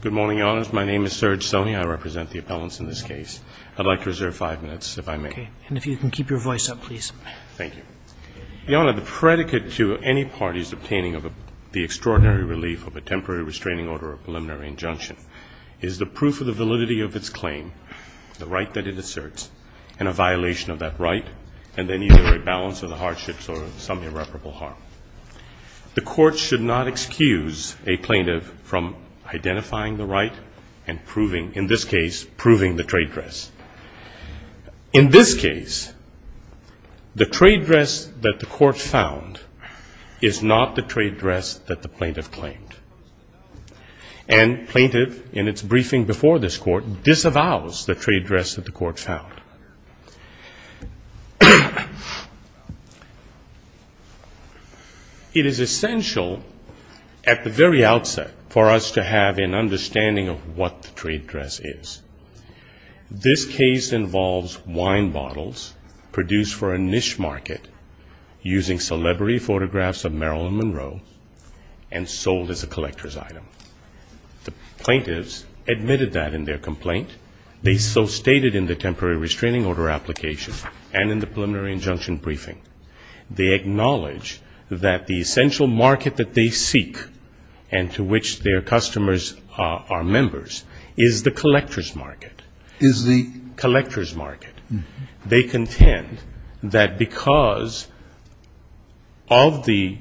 Good morning, Your Honors. My name is Serge Soney. I represent the appellants in this case. I'd like to reserve five minutes, if I may. Okay. And if you can keep your voice up, please. Thank you. Your Honor, the predicate to any party's obtaining of the extraordinary relief of a temporary restraining order or preliminary injunction is the proof of the validity of its claim, the right that it asserts, and a violation of that right, and then either a balance of the hardships or some irreparable harm. The court should not excuse a plaintiff from identifying the right and proving, in this case, proving the trade dress. In this case, the trade dress that the court found is not the trade dress that the plaintiff claimed. And plaintiff, in its briefing before this court, disavows the trade dress that the court found. It is essential at the very outset for us to have an understanding of what the trade dress is. This case involves wine bottles produced for a niche market using celebrity photographs of Marilyn Monroe and sold as a collector's item. The plaintiffs admitted that in their complaint. They so stated in the temporary restraining order application and in the preliminary injunction briefing. They acknowledge that the essential market that they seek and to which their customers are members is the collector's market. Is the collector's market. They contend that because of the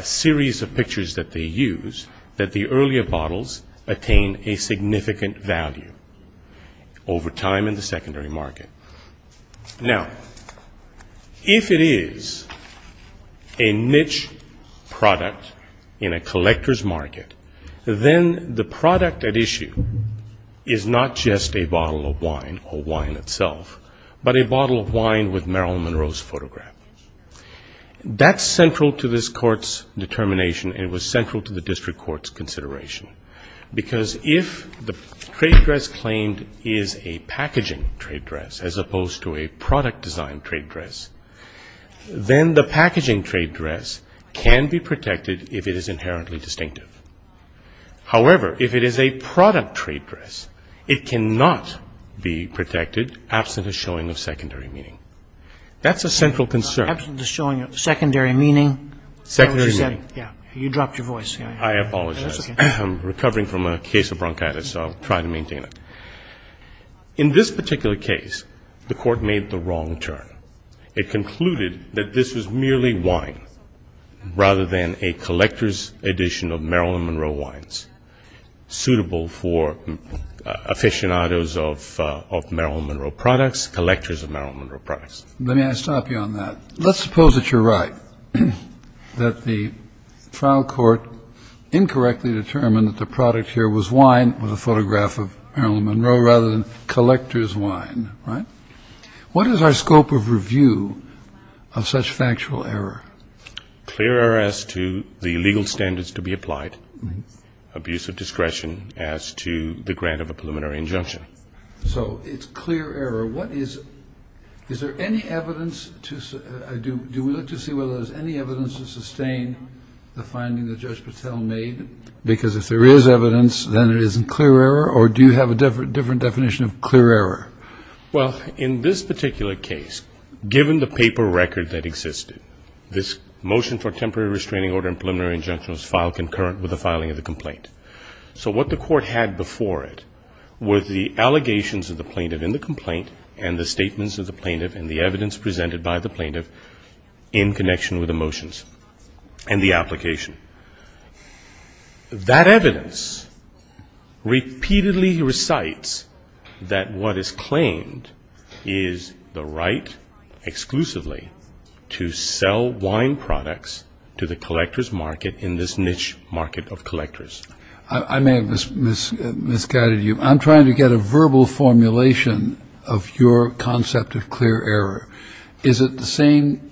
series of pictures that they use, that the earlier bottles attain a significant value over time in the market. Now, if it is a niche product in a collector's market, then the product at issue is not just a bottle of wine or wine itself, but a bottle of wine with Marilyn Monroe's photograph. That's central to this court's determination and was central to the district court's consideration. Because if the trade dress claimed is a packaging trade dress, as opposed to a product design trade dress, then the packaging trade dress can be protected if it is inherently distinctive. However, if it is a product trade dress, it cannot be protected absent a showing of secondary meaning. That's a central concern. Absent a showing of secondary meaning. Secondary meaning. You dropped your voice. I apologize. I'm recovering from a case of bronchitis, so I'll try to maintain it. In this particular case, the court made the wrong turn. It concluded that this was merely wine, rather than a collector's edition of Marilyn Monroe wines, suitable for aficionados of Marilyn Monroe products, collectors of Marilyn Monroe products. Let me stop you on that. Let's suppose that you're right, that the trial court incorrectly determined that the product here was wine with a photograph of Marilyn Monroe, rather than collector's wine, right? What is our scope of review of such factual error? Clear error as to the legal standards to be applied, abuse of discretion as to the grant of a preliminary injunction. So it's clear error. What is – is there any evidence to – do we look to see whether there's any evidence to sustain the finding that Judge Patel made? Because if there is evidence, then it isn't clear error, or do you have a different definition of clear error? Well, in this particular case, given the paper record that existed, this motion for temporary restraining order and preliminary injunction was filed concurrent with the filing of the complaint. So what the court had before it were the allegations of the plaintiff in the complaint and the evidence presented by the plaintiff in connection with the motions and the application. That evidence repeatedly recites that what is claimed is the right exclusively to sell wine products to the collector's market in this niche market of collectors. I may have misguided you. I'm trying to get a verbal formulation of your concept of clear error. Is it the same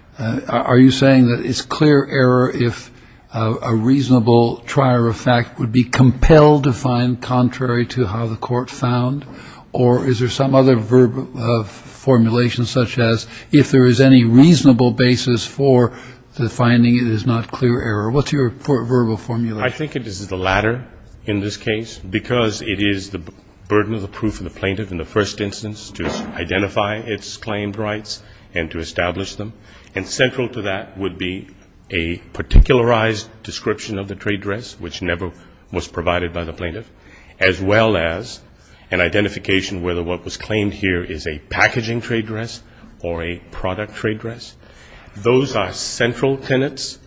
– are you saying that it's clear error if a reasonable trier of fact would be compelled to find contrary to how the court found, or is there some other verbal formulation such as if there is any reasonable basis for the finding it is not clear error? What's your verbal formulation? I think it is the latter in this case, because it is the burden of the proof of the plaintiff in the first instance to identify its claimed rights and to establish them. And central to that would be a particularized description of the trade dress, which never was provided by the plaintiff, as well as an identification whether what was claimed here is a packaging trade dress or a product trade dress. Those are central tenets.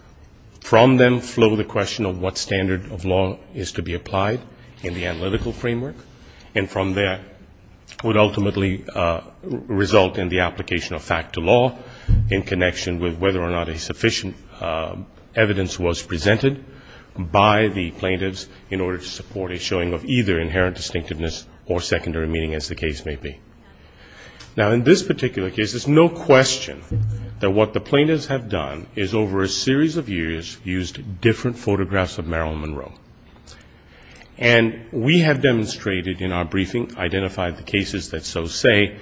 From them flow the question of what standard of law is to be applied in the case, which would ultimately result in the application of fact to law in connection with whether or not a sufficient evidence was presented by the plaintiffs in order to support a showing of either inherent distinctiveness or secondary meaning, as the case may be. Now, in this particular case, there's no question that what the plaintiffs have done is over a series of years used different photographs of Meryl Monroe. And we have demonstrated in our briefing and identified the cases that so say,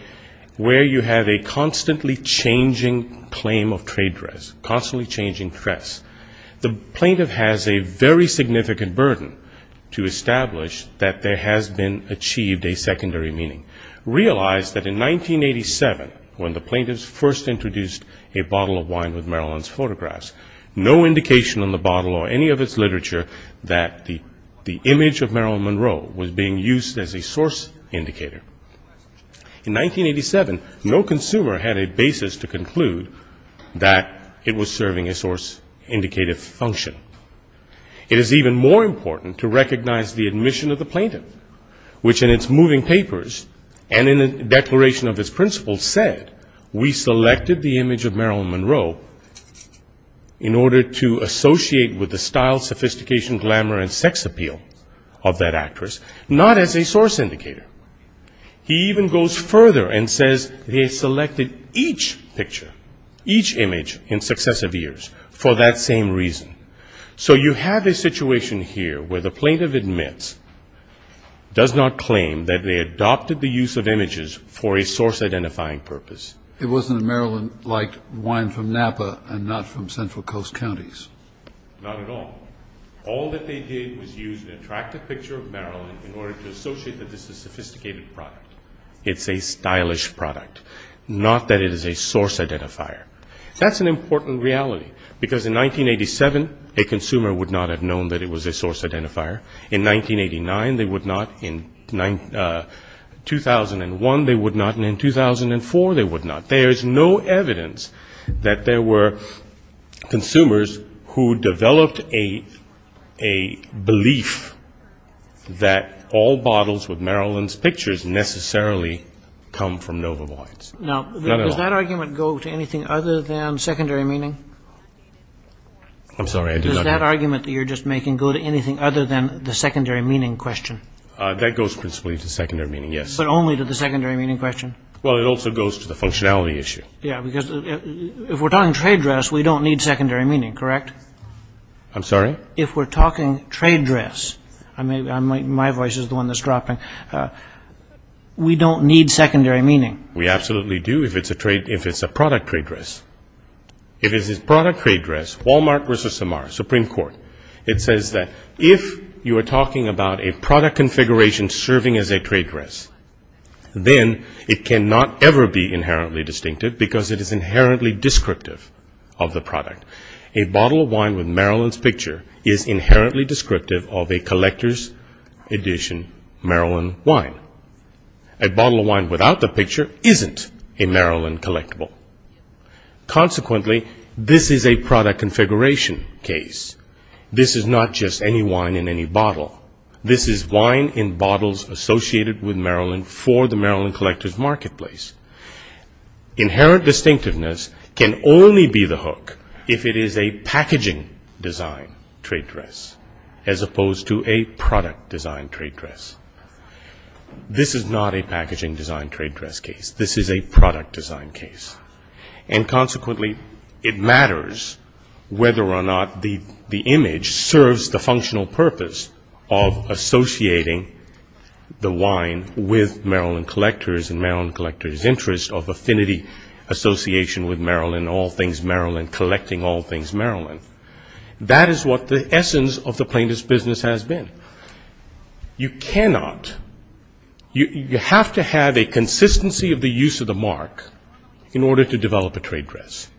where you have a constantly changing claim of trade dress, constantly changing dress, the plaintiff has a very significant burden to establish that there has been achieved a secondary meaning. Realize that in 1987, when the plaintiffs first introduced a bottle of wine with Meryl Monroe's photographs, no indication on the bottle or any of its literature that the image of Meryl Monroe was being used as a source indicator. In 1987, no consumer had a basis to conclude that it was serving a source indicative function. It is even more important to recognize the admission of the plaintiff, which in its moving papers and in a declaration of its principles said, we selected the image of Meryl Monroe in order to associate with the style, sophistication, glamour, and sex appeal of that actress, not as a source indicator. He even goes further and says they selected each picture, each image in successive years for that same reason. So you have a situation here where the plaintiff admits, does not claim that they adopted the use of images for a source identifying purpose. It wasn't a Maryland like wine from Napa and not from central coast counties. Not at all. All that they did was use an attractive picture of Maryland in order to associate that this is a sophisticated product. It's a stylish product, not that it is a source identifier. That's an important reality, because in 1987, a consumer would not have known that it was a source identifier. In 1989, they would not. In 2001, they would not. And in 2004, they would not. There's no evidence that there were consumers who developed a belief that all bottles with Maryland's pictures necessarily come from Nova Voids. Does that argument go to anything other than secondary meaning? That goes principally to secondary meaning, yes. But only to the secondary meaning question? Well, it also goes to the functionality issue. Yeah, because if we're talking trade dress, we don't need secondary meaning, correct? I'm sorry? If we're talking trade dress, my voice is the one that's dropping, we don't need secondary meaning. We absolutely do, if it's a product trade dress. If it's a product trade dress, Wal-Mart versus Samara, Supreme Court, it says that if you are talking about a product configuration serving as a trade dress, then it cannot ever be inherently distinctive, because it is inherently descriptive of the product. A bottle of wine with Maryland's picture is inherently descriptive of a collector's edition Maryland wine. A bottle of wine without the picture isn't a Maryland collectible. Consequently, this is a product configuration case. This is not just any wine in any bottle. This is wine in bottles associated with Maryland for the Maryland collector's marketplace. Inherent distinctiveness can only be the hook if it is a packaging design trade dress, as opposed to a product design trade dress. This is not a packaging design trade dress case, this is a product design case. And consequently, it matters whether or not the image serves the functional purpose of associating the wine with Maryland collectors and Maryland collectors' interest of affinity association with Maryland, all things Maryland, collecting all things Maryland. That is what the essence of the plaintiff's business has been. You cannot, you have to have a consistency of the use of the mark in order to develop a trade dress.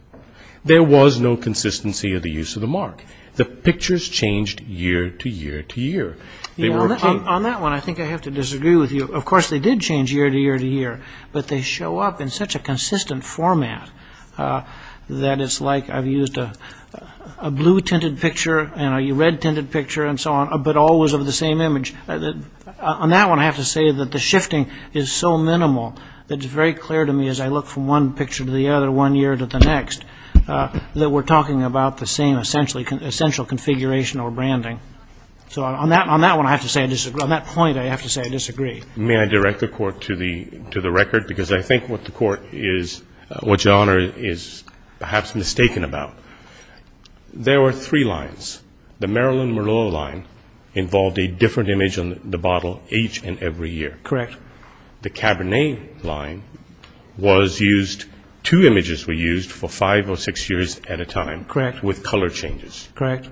There was no consistency of the use of the mark. The pictures changed year to year to year. On that one, I think I have to disagree with you. Of course, they did change year to year to year, but they show up in such a consistent format that it's like I've used a blue-tinted picture and a red-tinted picture and so on, but always of the same image. On that one, I have to say that the shifting is so minimal that it's very clear to me as I look from one picture to the other, one year to the next, that we're talking about the same, essentially, consistency. Essential configuration or branding. So on that one, I have to say I disagree. On that point, I have to say I disagree. May I direct the Court to the record? Because I think what the Court is, what your Honor is perhaps mistaken about, there were three lines. The Maryland Merlot line involved a different image on the bottle each and every year. Correct. The Cabernet line was used, two images were used for five or six years at a time. Correct. With color changes. Correct.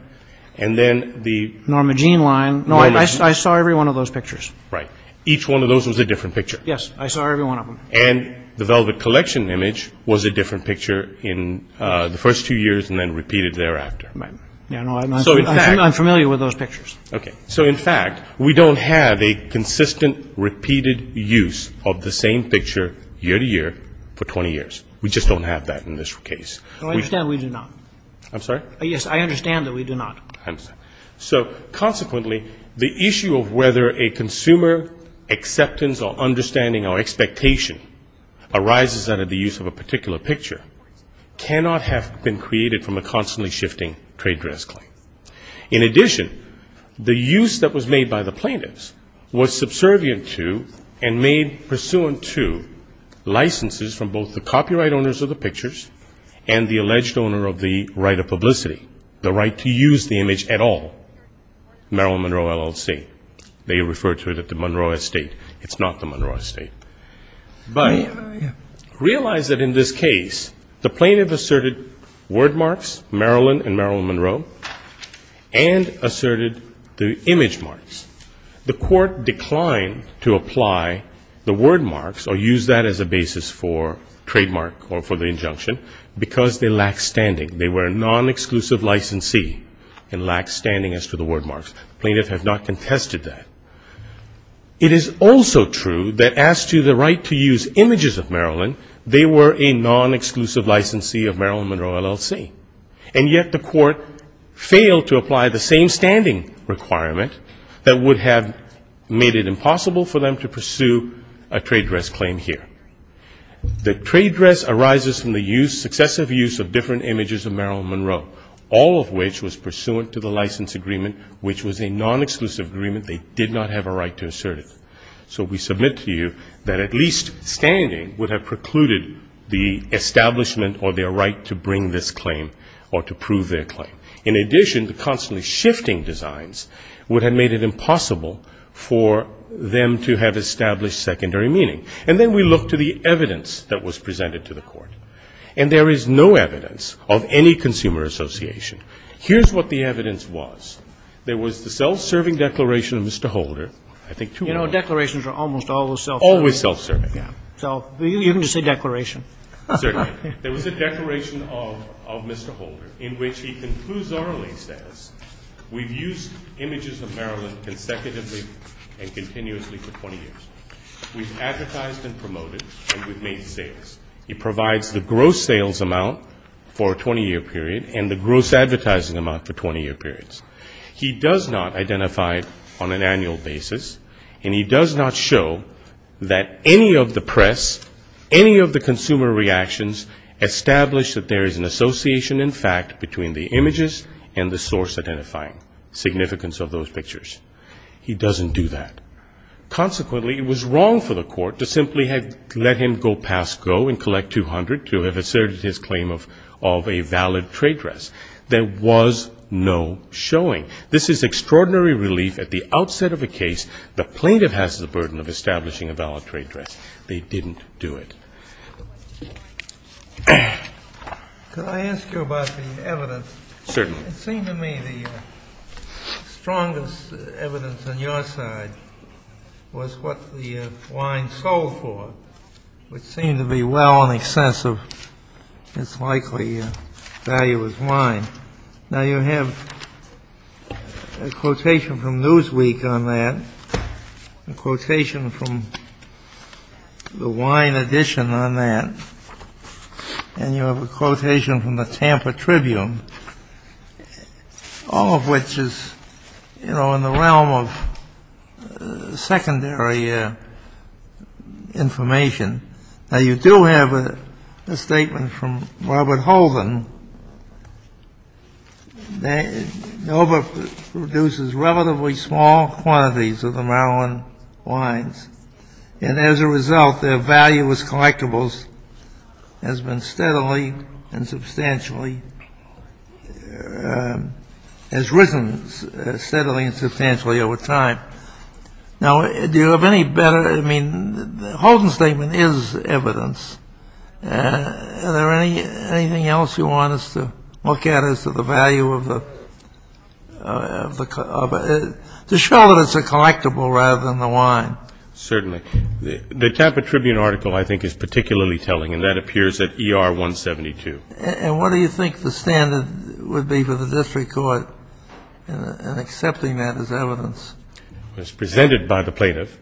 Normagene line, no, I saw every one of those pictures. Right. Each one of those was a different picture. Yes, I saw every one of them. And the Velvet Collection image was a different picture in the first two years and then repeated thereafter. I'm familiar with those pictures. Okay. So in fact, we don't have a consistent, repeated use of the same picture year to year for 20 years. We just don't have that in this case. No, I understand we do not. I'm sorry? Yes, I understand that we do not. So consequently, the issue of whether a consumer acceptance or understanding or expectation arises out of the use of a particular picture cannot have been created from a constantly shifting trade dress claim. In addition, the use that was made by the plaintiffs was subservient to and made pursuant to licenses from both the copyright owners of the pictures and the alleged owner of the right of publicity, the right to use the image at all, Merrill Monroe LLC. They refer to it as the Monroe Estate. It's not the Monroe Estate. But realize that in this case, the plaintiff asserted word marks, Merrill and Merrill Monroe, and asserted the image marks. The court declined to apply the word marks or use that as a basis for trademark or for the injunction, because they lacked standing. They were a non-exclusive licensee and lacked standing as to the word marks. The plaintiff has not contested that. It is also true that as to the right to use images of Merrill and Merrill, they were a non-exclusive licensee of Merrill Monroe LLC. And yet the court failed to apply the same standing requirement that would have made it impossible for them to pursue a trade dress claim here. The trade dress arises from the use, successive use of different images of Merrill Monroe, all of which was pursuant to the license agreement, which was a non-exclusive agreement. They did not have a right to assert it. So we submit to you that at least standing would have precluded the establishment or their right to bring this claim or to prove their claim. In addition, the constantly shifting designs would have made it impossible for them to have established secondary meaning. And then we look to the evidence that was presented to the court, and there is no evidence of any consumer association. Here's what the evidence was. There was the self-serving declaration of Mr. Holder. I think two more. You know, declarations are almost always self-serving. Always self-serving, yeah. So you can just say declaration. Certainly. There was a declaration of Mr. Holder in which he concludes our link status, we've used images of Merrill consecutively and continuously for 20 years. We've advertised and promoted and we've made sales. He provides the gross sales amount for a 20-year period and the gross advertising amount for 20-year periods. He does not identify on an annual basis, and he does not show that any of the press, any of the consumer reactions, establish that there is an association in fact between the images and the source identifying significance of those pictures. He doesn't do that. Consequently, it was wrong for the court to simply have let him go pass go and collect 200 to have asserted his claim of a valid trade dress. There was no showing. This is extraordinary relief at the outset of a case. The plaintiff has the burden of establishing a valid trade dress. They didn't do it. Could I ask you about the evidence? Certainly. It seemed to me the strongest evidence on your side was what the line sold for, which seemed to be well in excess of its likely value as wine. Now you have a quotation from Newsweek on that, a quotation from the Wine Edition on that, and you have a quotation from the Tampa Tribune, all of which is, you know, in the realm of secondary information. Now you do have a statement from Robert Holden. Nova produces relatively small quantities of the Maryland wines, and as a result their value as collectibles has been steadily and substantially has risen steadily and substantially over time. Now, do you have any better, I mean, the Holden statement is evidence. Is there anything else you want us to look at as to the value of the, to show that it's a collectible rather than the wine? Certainly. The Tampa Tribune article I think is particularly telling, and that appears at ER 172. And what do you think the standard would be for the district court in accepting that as evidence? It was presented by the plaintiff.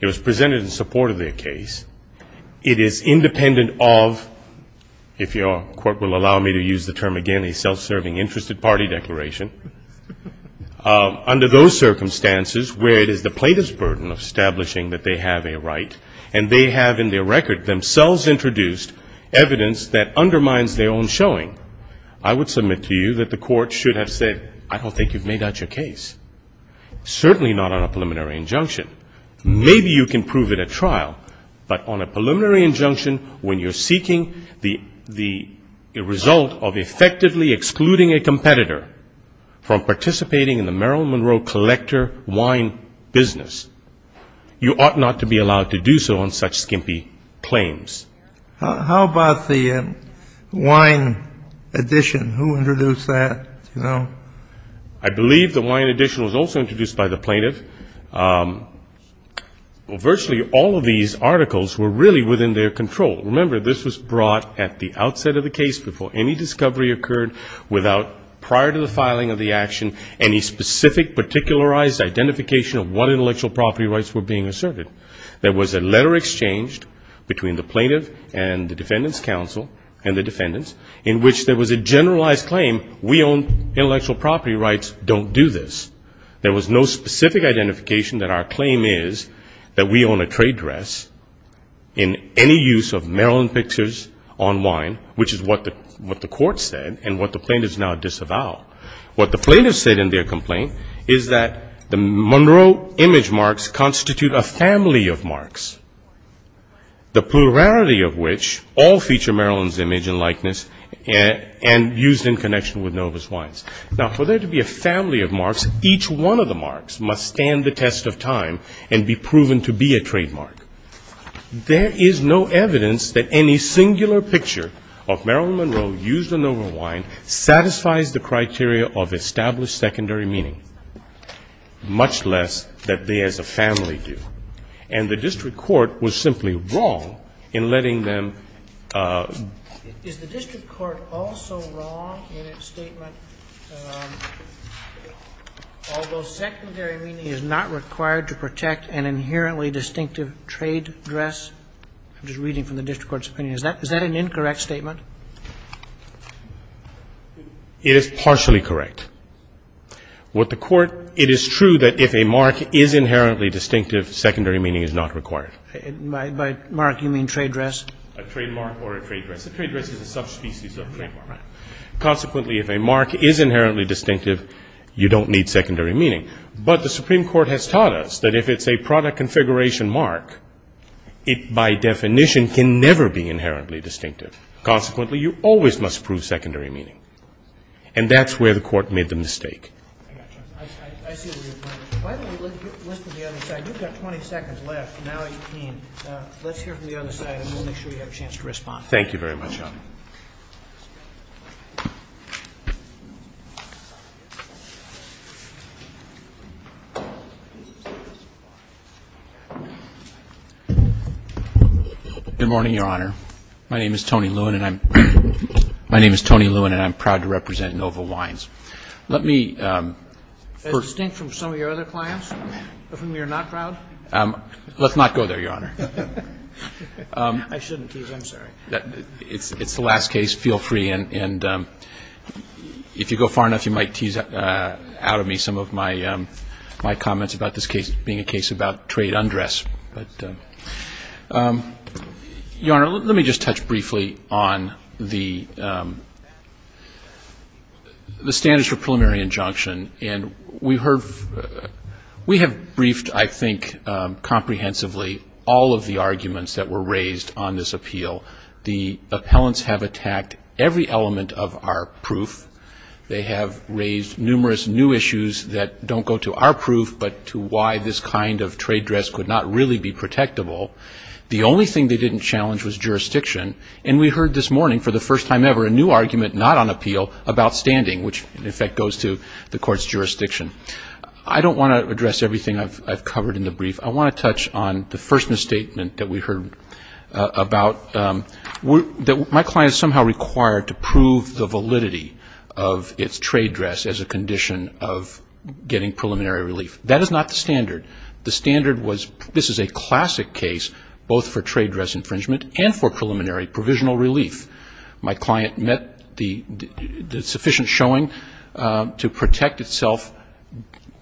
It was presented in support of their case. It is independent of, if your court will allow me to use the term again, a self-serving interested party declaration. Under those circumstances where it is the plaintiff's burden of establishing that they have a right and they have in their record themselves introduced evidence that undermines their own showing, I would submit to you that the court should have said, I don't think you've made out your case. Certainly not on a preliminary injunction. Maybe you can prove it at trial, but on a preliminary injunction, when you're seeking the result of effectively excluding a competitor from participating in the Merrill Monroe collector wine business, you ought not to be allowed to do so on such skimpy claims. How about the wine addition? Who introduced that? I believe the wine addition was also introduced by the plaintiff. Virtually all of these articles were really within their control. Remember, this was brought at the outset of the case before any discovery occurred, without prior to the filing of the action any specific, particularized identification of what intellectual property rights were being asserted. There was a letter exchanged between the plaintiff and the defendant's counsel and the defendants in which there was a generalized claim, we own intellectual property rights, don't do this. There was no specific identification that our claim is that we own a trade dress in any use of Maryland pictures on wine, which is what the court said and what the plaintiff has now disavowed. What the plaintiff said in their complaint is that the Monroe image marks constitute a family of marks, the plurality of which all feature Maryland's image and likeness and used in connection with Novus wines. Now, for there to be a family of marks, each one of the marks must stand the test of time and be proven to be a trademark. There is no evidence that any singular picture of Maryland Monroe used in Novus wine satisfies the criteria of established secondary meaning, much less that they as a family do. And the district court was simply wrong in letting them ---- Is the district court also wrong in its statement, although secondary meaning is not required to protect an inherently distinctive trade dress? I'm just reading from the district court's opinion. Is that an incorrect statement? It is partially correct. What the court ---- It is true that if a mark is inherently distinctive, secondary meaning is not required. By mark, you mean trade dress? A trademark or a trade dress. A trade dress is a subspecies of a trademark. Consequently, if a mark is inherently distinctive, you don't need secondary meaning. But the Supreme Court has taught us that if it's a product configuration mark, it by definition can never be inherently distinctive. Consequently, you always must prove secondary meaning. And that's where the court made the mistake. I see where you're going. Why don't we listen to the other side? You've got 20 seconds left. Now it's keen. Let's hear from the other side, and we'll make sure you have a chance to respond. Thank you very much, Your Honor. Good morning, Your Honor. My name is Tony Lewin, and I'm proud to represent Nova Wines. Let me first ---- As distinct from some of your other clients, of whom you're not proud? Let's not go there, Your Honor. I shouldn't tease. I'm sorry. It's the last case. Feel free. And if you go far enough, you might tease out of me some of my comments about this case being a case about trade undress. Your Honor, let me just touch briefly on the standards for preliminary injunction. And we have briefed, I think, comprehensively all of the arguments that were raised on this appeal. The appellants have attacked every element of our proof. They have raised numerous new issues that don't go to our proof, but to why this kind of trade dress could not really be protectable. The only thing they didn't challenge was jurisdiction. And we heard this morning, for the first time ever, a new argument not on appeal, about standing, which, in effect, goes to the court's jurisdiction. I don't want to address everything I've covered in the brief. I want to touch on the first misstatement that we heard about, that my client is somehow required to prove the validity of its trade dress as a condition of getting preliminary relief. That is not the standard. The standard was ---- This is a classic case, both for trade dress infringement and for preliminary provisional relief. My client met the sufficient showing to protect itself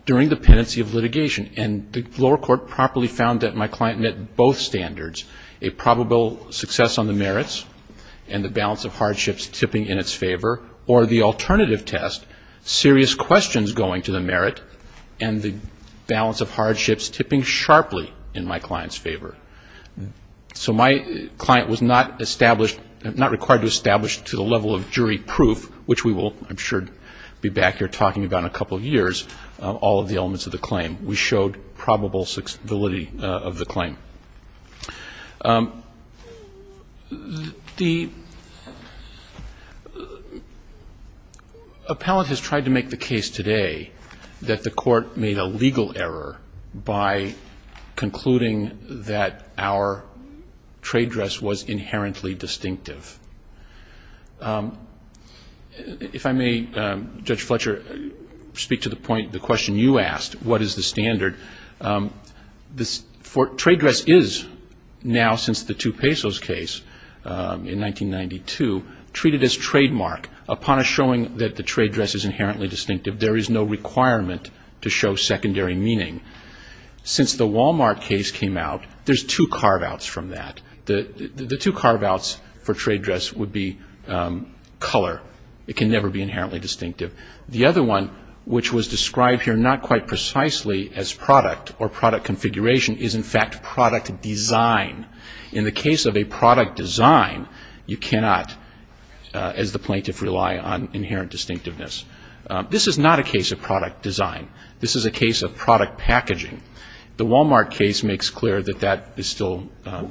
during the pendency of litigation. And the lower court properly found that my client met both standards, a probable success on the merits and the balance of hardships tipping in its favor, or the alternative test, serious questions going to the merit and the balance of hardships tipping sharply in my client's favor. So my client was not established, not required to establish to the level of jury proof, which we will, I'm sure, be back here talking about in a couple of years, all of the elements of the claim. We showed probable validity of the claim. The appellant has tried to make the case today that the court made a legal error by concluding that our trade dress was inherently distinctive. If I may, Judge Fletcher, speak to the point, the question you asked, what is the standard? Trade dress is now, since the two pesos case in 1992, treated as trademark. Upon a showing that the trade dress is inherently distinctive, there is no requirement to show secondary meaning. Since the Walmart case came out, there's two carve-outs from that. The two carve-outs for trade dress would be color. It can never be inherently distinctive. The other one, which was described here not quite precisely as product or product configuration, is in fact product design. In the case of a product design, you cannot, as the plaintiff, rely on inherent distinctiveness. This is not a case of product design. This is a case of product packaging. The Walmart case makes clear that that is still.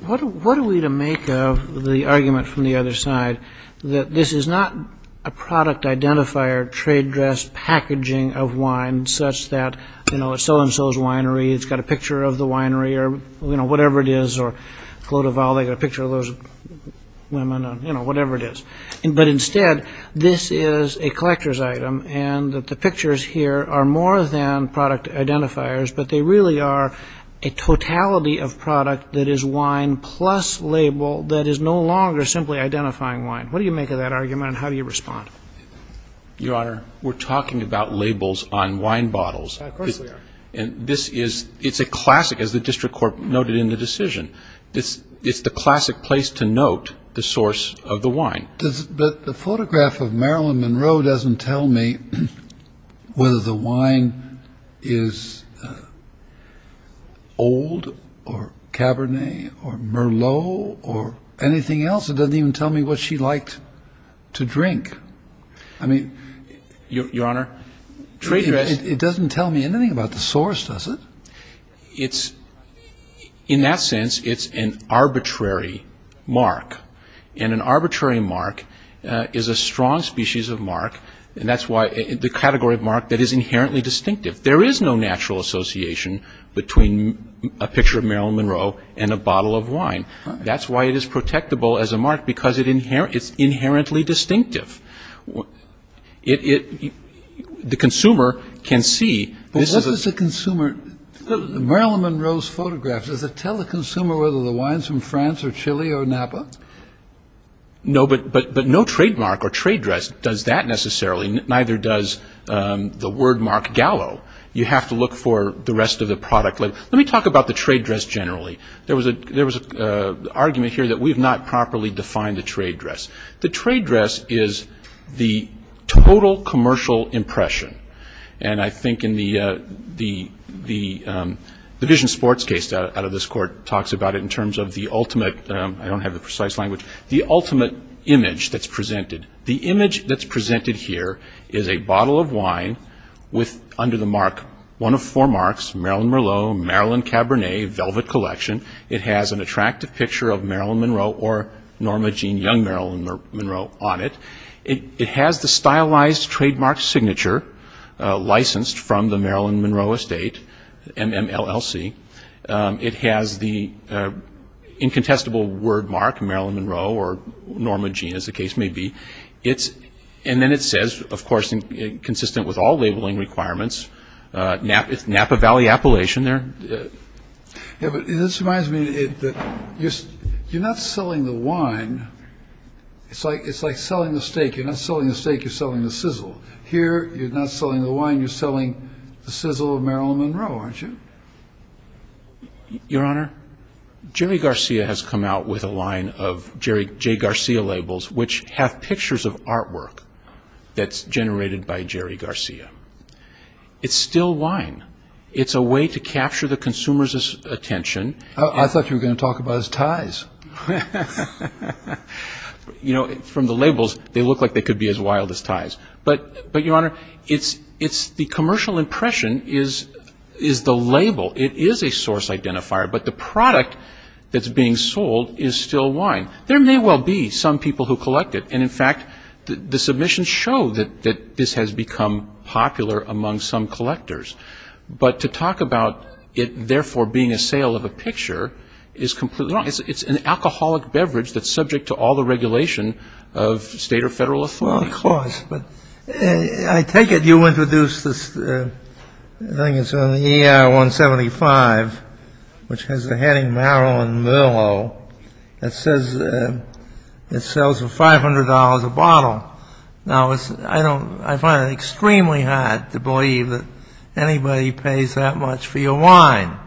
What are we to make of the argument from the other side that this is not a product identifier, trade dress packaging of wine such that, you know, so-and-so's winery, it's got a picture of the winery, or, you know, whatever it is, or Clodovale, they've got a picture of those women, you know, whatever it is. But instead, this is a collector's item, and the pictures here are more than product identifiers, but they really are a totality of product that is wine plus label that is no longer simply identifying wine. What do you make of that argument, and how do you respond? Your Honor, we're talking about labels on wine bottles. Of course we are. And this is, it's a classic, as the district court noted in the decision. It's the classic place to note the source of the wine. But the photograph of Marilyn Monroe doesn't tell me whether the wine is old or Cabernet or Merlot or anything else. It doesn't even tell me what she liked to drink. I mean... Your Honor, trade dress... It doesn't tell me anything about the source, does it? In that sense, it's an arbitrary mark. And an arbitrary mark is a strong species of mark, and that's why the category of mark that is inherently distinctive. There is no natural association between a picture of Marilyn Monroe and a bottle of wine. That's why it is protectable as a mark, because it's inherently distinctive. The consumer can see... Marilyn Monroe's photograph, does it tell the consumer whether the wine is from France or Chile or Napa? No, but no trademark or trade dress does that necessarily, neither does the word mark gallo. You have to look for the rest of the product label. Let me talk about the trade dress generally. There was an argument here that we have not properly defined the trade dress. The trade dress is the total commercial impression. And I think in the division sports case out of this court talks about it in terms of the ultimate... I don't have the precise language. The ultimate image that's presented. The image that's presented here is a bottle of wine with under the mark one of four marks, Marilyn Merlot, Marilyn Cabernet, Velvet Collection. It has an attractive picture of Marilyn Monroe or Norma Jean Young Marilyn Monroe on it. It has the stylized trademark signature licensed from the Marilyn Monroe Estate, MMLLC. It has the incontestable word mark Marilyn Monroe or Norma Jean as the case may be. And then it says, of course, consistent with all labeling requirements, Napa Valley Appalachian there. Yeah, but this reminds me that you're not selling the wine. It's like selling the steak. You're not selling the steak. You're selling the sizzle. Here you're not selling the wine. You're selling the sizzle of Marilyn Monroe, aren't you? Your Honor, Jerry Garcia has come out with a line of Jay Garcia labels, which have pictures of artwork that's generated by Jerry Garcia. It's still wine. It's a way to capture the consumer's attention. I thought you were going to talk about his ties. You know, from the labels, they look like they could be as wild as ties. But, Your Honor, the commercial impression is the label. It is a source identifier, but the product that's being sold is still wine. There may well be some people who collect it, and, in fact, the submissions show that this has become popular among some collectors. But to talk about it, therefore, being a sale of a picture is completely wrong. It's an alcoholic beverage that's subject to all the regulation of state or federal authority. Well, of course, but I take it you introduced this thing. It's on the ER-175, which has the heading Marilyn Monroe. It says it sells for $500 a bottle. Now, I find it extremely hard to believe that anybody pays that much for your wine.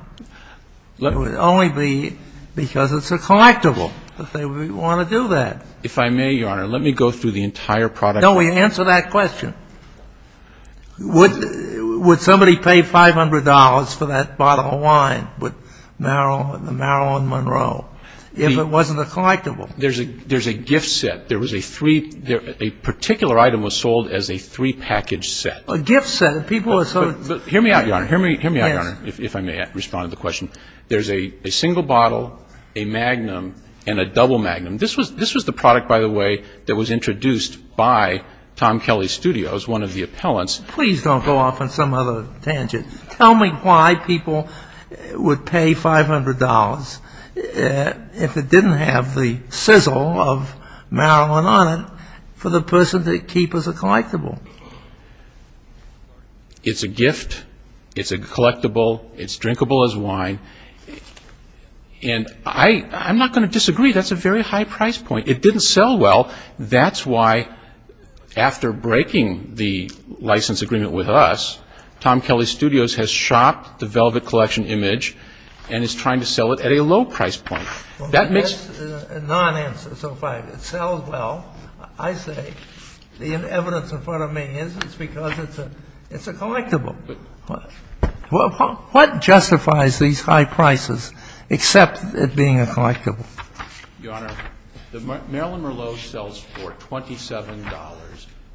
It would only be because it's a collectible that they would want to do that. If I may, Your Honor, let me go through the entire product. No, answer that question. Would somebody pay $500 for that bottle of wine, the Marilyn Monroe, if it wasn't a collectible? There's a gift set. A particular item was sold as a three-package set. A gift set. Hear me out, Your Honor, if I may respond to the question. There's a single bottle, a magnum, and a double magnum. This was the product, by the way, that was introduced by Tom Kelly Studios, one of the appellants. Please don't go off on some other tangent. Tell me why people would pay $500 if it didn't have the sizzle of Marilyn on it for the person to keep as a collectible. It's a gift. It's a collectible. It's drinkable as wine. And I'm not going to disagree. That's a very high price point. It didn't sell well. That's why, after breaking the license agreement with us, Tom Kelly Studios has shopped the velvet collection image and is trying to sell it at a low price point. That makes the non-answer. So if it sells well, I say the evidence in front of me is it's because it's a collectible. What justifies these high prices except it being a collectible? Your Honor, the Marilyn Merlot sells for $27.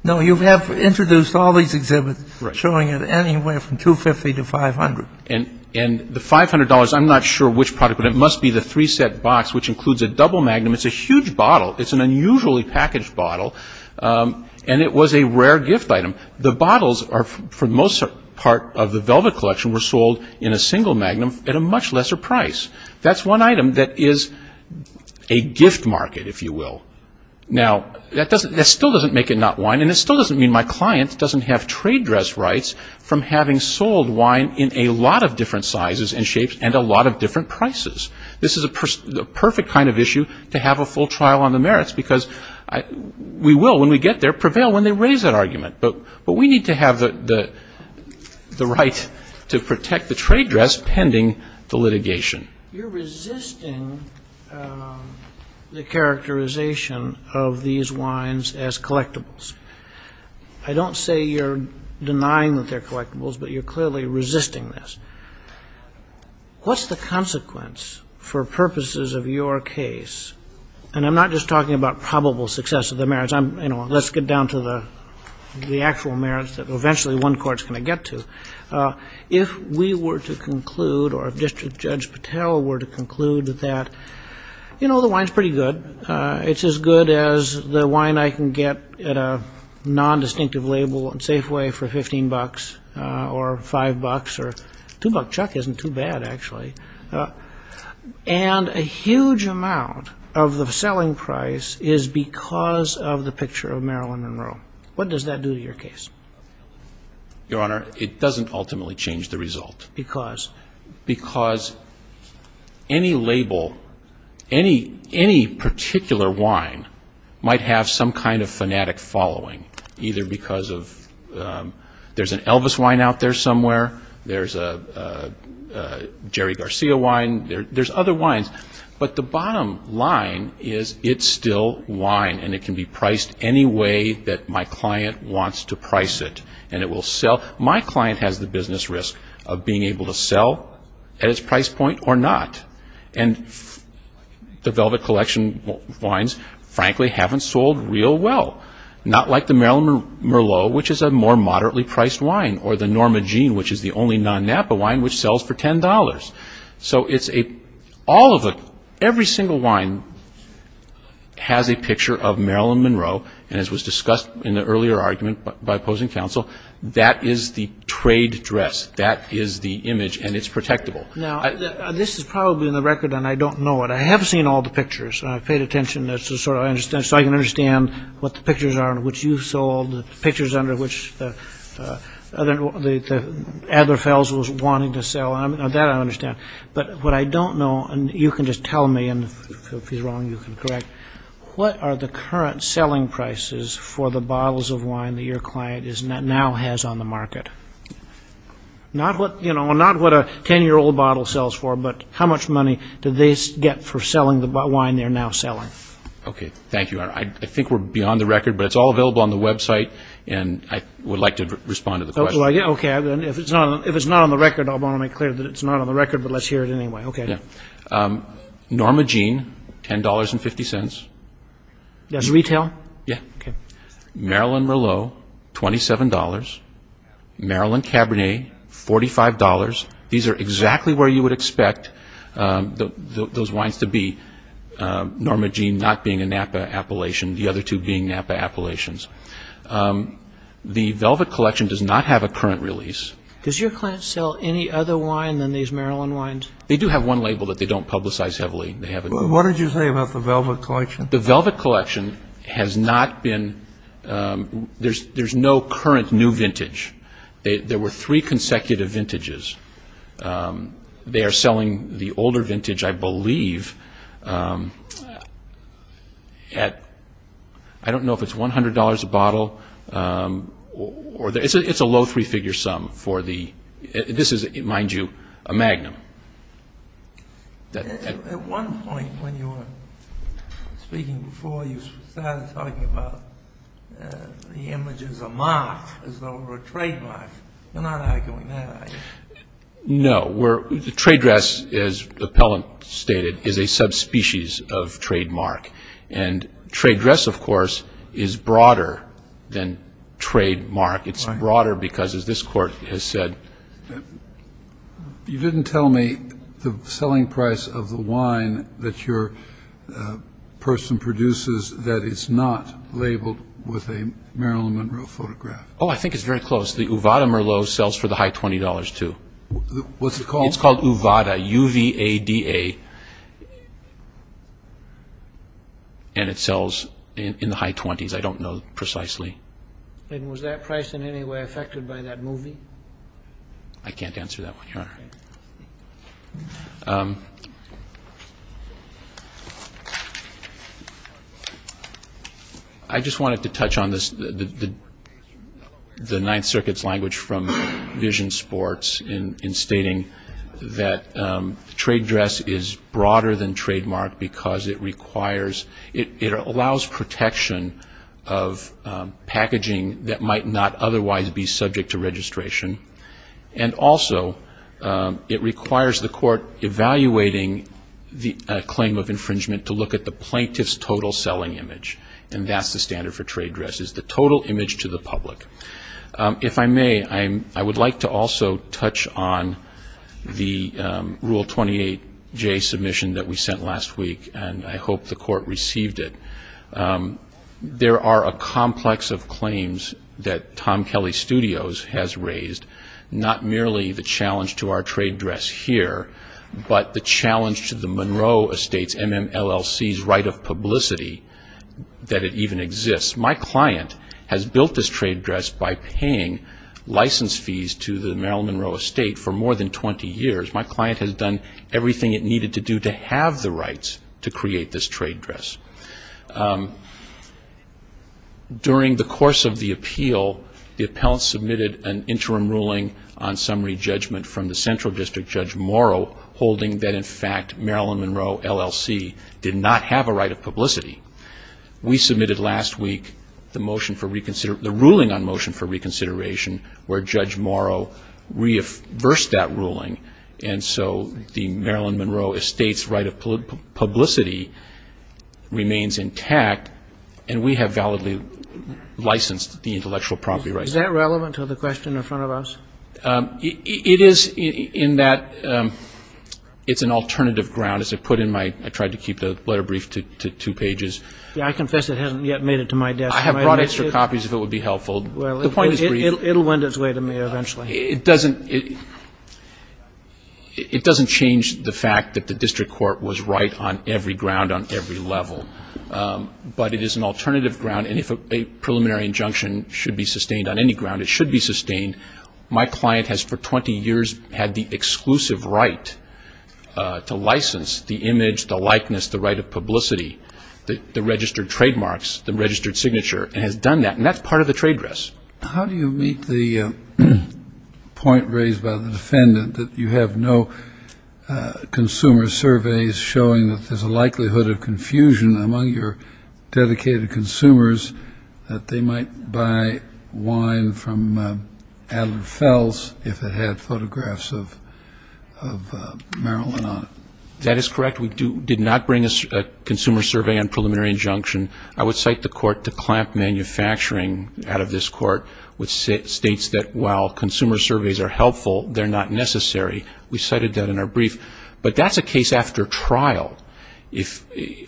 No, you have introduced all these exhibits showing it anywhere from $250 to $500. And the $500, I'm not sure which product, but it must be the three-set box, which includes a double magnum. It's a huge bottle. It's an unusually packaged bottle. And it was a rare gift item. The bottles, for the most part of the velvet collection, were sold in a single magnum at a much lesser price. That's one item that is a gift market, if you will. Now, that still doesn't make it not wine. And it still doesn't mean my client doesn't have trade dress rights from having sold wine in a lot of different sizes and shapes and a lot of different prices. This is the perfect kind of issue to have a full trial on the merits because we will, when we get there, prevail when they raise that argument. But we need to have the right to protect the trade dress pending the litigation. You're resisting the characterization of these wines as collectibles. I don't say you're denying that they're collectibles, but you're clearly resisting this. What's the consequence for purposes of your case? And I'm not just talking about probable success of the merits. I'm, you know, let's get down to the actual merits that eventually one court's going to get to. If we were to conclude or if District Judge Patel were to conclude that, you know, the wine's pretty good. It's as good as the wine I can get at a nondistinctive label and Safeway for $15 or $5 or $2. Chuck isn't too bad, actually. And a huge amount of the selling price is because of the picture of Maryland and Rome. What does that do to your case? Your Honor, it doesn't ultimately change the result. Because? Because any label, any particular wine might have some kind of fanatic following, either because of there's an Elvis wine out there somewhere, there's a Jerry Garcia wine, there's other wines. But the bottom line is it's still wine and it can be priced any way that my client wants to price it. And it will sell. My client has the business risk of being able to sell at its price point or not. And the Velvet Collection wines, frankly, haven't sold real well. Not like the Maryland Merlot, which is a more moderately priced wine, or the Norma Jean, which is the only non-Napa wine which sells for $10. So it's a – all of the – every single wine has a picture of Maryland Monroe. And as was discussed in the earlier argument by opposing counsel, that is the trade dress. That is the image. And it's protectable. Now, this is probably in the record and I don't know it. I have seen all the pictures. I've paid attention so I can understand what the pictures are in which you sold, the pictures under which Adler Fels was wanting to sell. That I understand. But what I don't know, and you can just tell me, and if he's wrong you can correct, what are the current selling prices for the bottles of wine that your client now has on the market? Not what, you know, not what a 10-year-old bottle sells for, but how much money do they get for selling the wine they're now selling? Okay. Thank you. I think we're beyond the record, but it's all available on the website and I would like to respond to the question. Okay. If it's not on the record, I want to make clear that it's not on the record, but let's hear it anyway. Okay. Norma Jean, $10.50. That's retail? Yeah. Okay. Marilyn Merlot, $27.00. Marilyn Cabernet, $45.00. These are exactly where you would expect those wines to be, Norma Jean not being a Napa Appalachian, the other two being Napa Appalachians. The Velvet Collection does not have a current release. Does your client sell any other wine than these Marilyn wines? They do have one label that they don't publicize heavily. What did you say about the Velvet Collection? The Velvet Collection has not been – there's no current new vintage. There were three consecutive vintages. They are selling the older vintage, I believe, at – I don't know if it's $100 a bottle. It's a low three-figure sum for the – this is, mind you, a magnum. At one point when you were speaking before, you started talking about the image as a mark, as though it were a trademark. You're not arguing that, are you? No. The trade dress, as the appellant stated, is a subspecies of trademark. And trade dress, of course, is broader than trademark. It's broader because, as this Court has said – You didn't tell me the selling price of the wine that your person produces that is not labeled with a Marilyn Monroe photograph. Oh, I think it's very close. The Uvada Merlot sells for the high $20, too. What's it called? It's called Uvada, U-V-A-D-A. And it sells in the high 20s. I don't know precisely. And was that price in any way affected by that movie? I can't answer that one, Your Honor. I just wanted to touch on the Ninth Circuit's language from Vision Sports in stating that trade dress is broader than trademark because it requires – that might not otherwise be subject to registration. And also, it requires the Court evaluating the claim of infringement to look at the plaintiff's total selling image. And that's the standard for trade dresses, the total image to the public. If I may, I would like to also touch on the Rule 28J submission that we sent last week, and I hope the Court received it. There are a complex of claims that Tom Kelly Studios has raised, not merely the challenge to our trade dress here, but the challenge to the Monroe Estate's, MMLLC's, right of publicity that it even exists. My client has built this trade dress by paying license fees to the Maryland Monroe Estate for more than 20 years. My client has done everything it needed to do to have the rights to create this trade dress. During the course of the appeal, the appellant submitted an interim ruling on summary judgment from the Central District Judge Morrow, holding that in fact Maryland Monroe LLC did not have a right of publicity. We submitted last week the ruling on motion for reconsideration where Judge Morrow reaffirmed that ruling. And so the Maryland Monroe Estate's right of publicity remains intact, and we have validly licensed the intellectual property rights. Is that relevant to the question in front of us? It is in that it's an alternative ground. As I put in my, I tried to keep the letter brief to two pages. Yeah, I confess it hasn't yet made it to my desk. I have brought extra copies if it would be helpful. The point is brief. Well, it will lend its way to me eventually. It doesn't change the fact that the district court was right on every ground on every level. But it is an alternative ground, and if a preliminary injunction should be sustained on any ground, it should be sustained. My client has for 20 years had the exclusive right to license the image, the likeness, the right of publicity, the registered trademarks, the registered signature, and has done that. And that's part of the trade dress. How do you meet the point raised by the defendant that you have no consumer surveys showing that there's a likelihood of confusion among your dedicated consumers that they might buy wine from Adelaide Fells if it had photographs of Marilyn on it? That is correct. We did not bring a consumer survey and preliminary injunction. I would cite the court to clamp manufacturing out of this court which states that while consumer surveys are helpful, they're not necessary. We cited that in our brief. But that's a case after trial.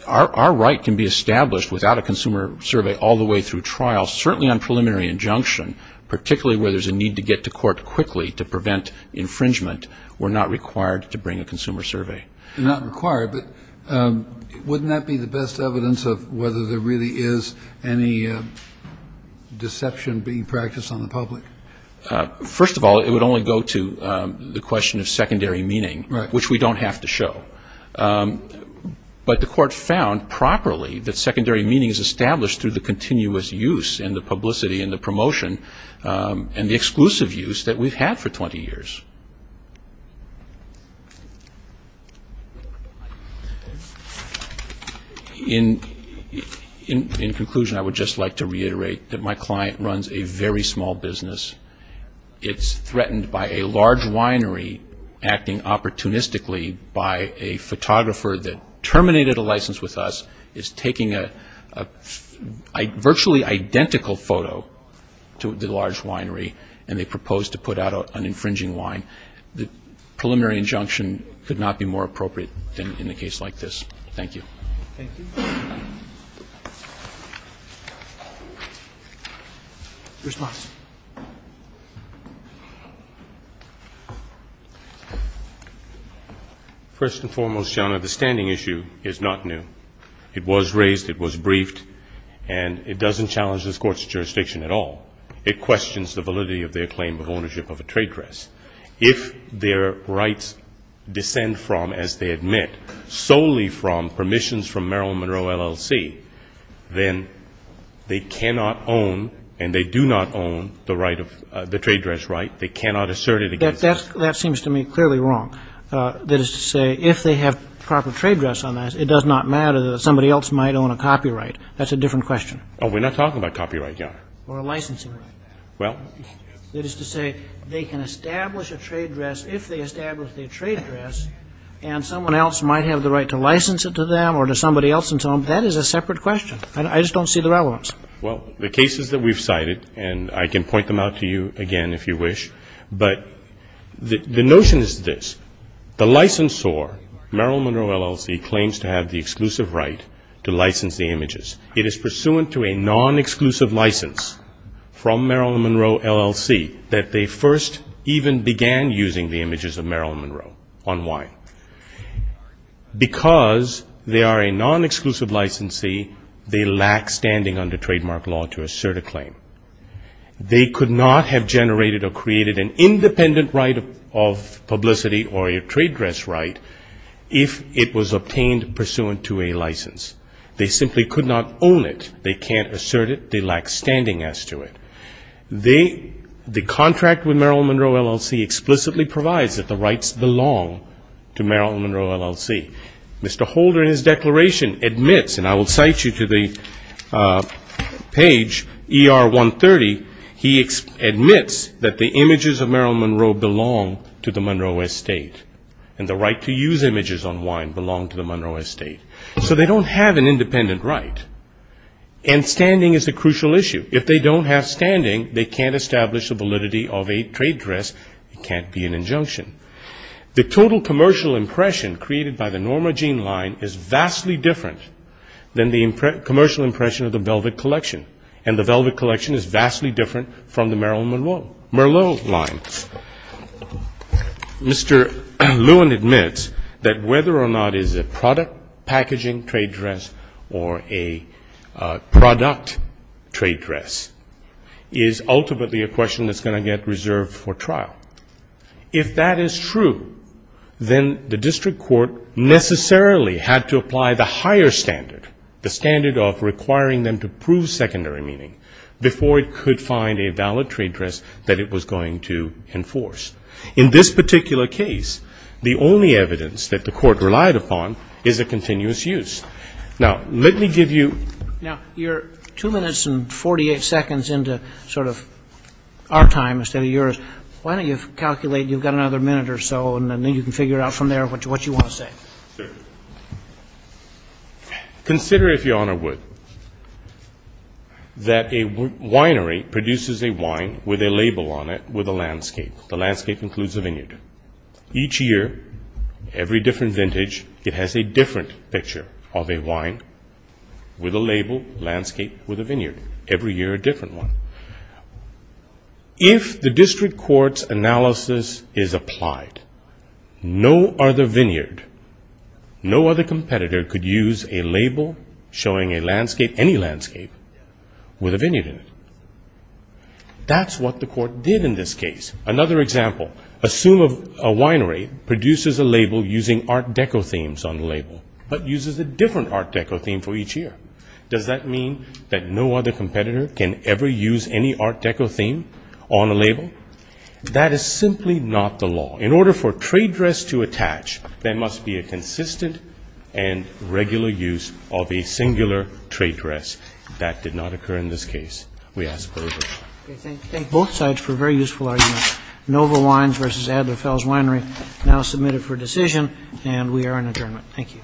Our right can be established without a consumer survey all the way through trial, certainly on preliminary injunction, particularly where there's a need to get to court quickly to prevent infringement. We're not required to bring a consumer survey. Not required. But wouldn't that be the best evidence of whether there really is any deception being practiced on the public? First of all, it would only go to the question of secondary meaning, which we don't have to show. But the court found properly that secondary meaning is established through the continuous use and the publicity and the promotion and the exclusive use that we've had for 20 years. In conclusion, I would just like to reiterate that my client runs a very small business. It's threatened by a large winery acting opportunistically by a photographer that terminated a license with us, is taking a virtually identical photo to the large winery, and they propose to put out an infringing wine. The preliminary injunction could not be more appropriate in a case like this. Thank you. Thank you. Your response. First and foremost, Your Honor, the standing issue is not new. It was raised, it was briefed, and it doesn't challenge this Court's jurisdiction at all. It questions the validity of their claim of ownership of a trade press. If their rights descend from, as they admit, solely from permissions from Maryland Monroe LLC, then they cannot own, and they do not own, the trade press right. They cannot assert it against them. That seems to me clearly wrong. That is to say, if they have proper trade press on that, it does not matter that somebody else might own a copyright. That's a different question. Oh, we're not talking about copyright, Your Honor. Or a licensing right. Well. That is to say, they can establish a trade press if they establish a trade press, and someone else might have the right to license it to them or to somebody else and so on. That is a separate question. I just don't see the relevance. Well, the cases that we've cited, and I can point them out to you again if you wish, but the notion is this. The licensor, Maryland Monroe LLC, claims to have the exclusive right to license the images. It is pursuant to a non-exclusive license from Maryland Monroe LLC that they first even began using the images of Maryland Monroe. On why? Because they are a non-exclusive licensee, they lack standing under trademark law to assert a claim. They could not have generated or created an independent right of publicity or a trade press right if it was obtained pursuant to a license. They simply could not own it. They can't assert it. They lack standing as to it. The contract with Maryland Monroe LLC explicitly provides that the rights belong to Maryland Monroe LLC. Mr. Holder in his declaration admits, and I will cite you to the page ER-130, he admits that the images of Maryland Monroe belong to the Monroe estate, and the right to use images on wine belong to the Monroe estate. So they don't have an independent right. And standing is a crucial issue. If they don't have standing, they can't establish the validity of a trade press. It can't be an injunction. The total commercial impression created by the Norma Jean line is vastly different than the commercial impression of the Velvet Collection, and the Velvet Collection is vastly different from the Maryland Monroe line. Mr. Lewin admits that whether or not it is a product packaging trade dress or a product trade dress is ultimately a question that's going to get reserved for trial. If that is true, then the district court necessarily had to apply the higher standard, the standard of requiring them to prove secondary meaning, before it could find a valid trade dress that it was going to enforce. In this particular case, the only evidence that the court relied upon is a continuous use. Now, let me give you ---- Now, you're 2 minutes and 48 seconds into sort of our time instead of yours. Why don't you calculate, you've got another minute or so, and then you can figure out from there what you want to say. Consider, if you honor Wood, that a winery produces a wine with a label on it with a landscape. The landscape includes a vineyard. Each year, every different vintage, it has a different picture of a wine with a label, landscape with a vineyard, every year a different one. If the district court's analysis is applied, no other vineyard, no other competitor could use a label showing a landscape, any landscape, with a vineyard in it. That's what the court did in this case. Another example, assume a winery produces a label using art deco themes on the label, but uses a different art deco theme for each year. Does that mean that no other competitor can ever use any art deco theme on a label? That is simply not the law. In order for a trade dress to attach, there must be a consistent and regular use of a singular trade dress. That did not occur in this case. We ask for your vote. Thank you. Thank both sides for a very useful argument. Nova Wines versus Adler Fells Winery now submitted for decision, and we are in adjournment. Thank you.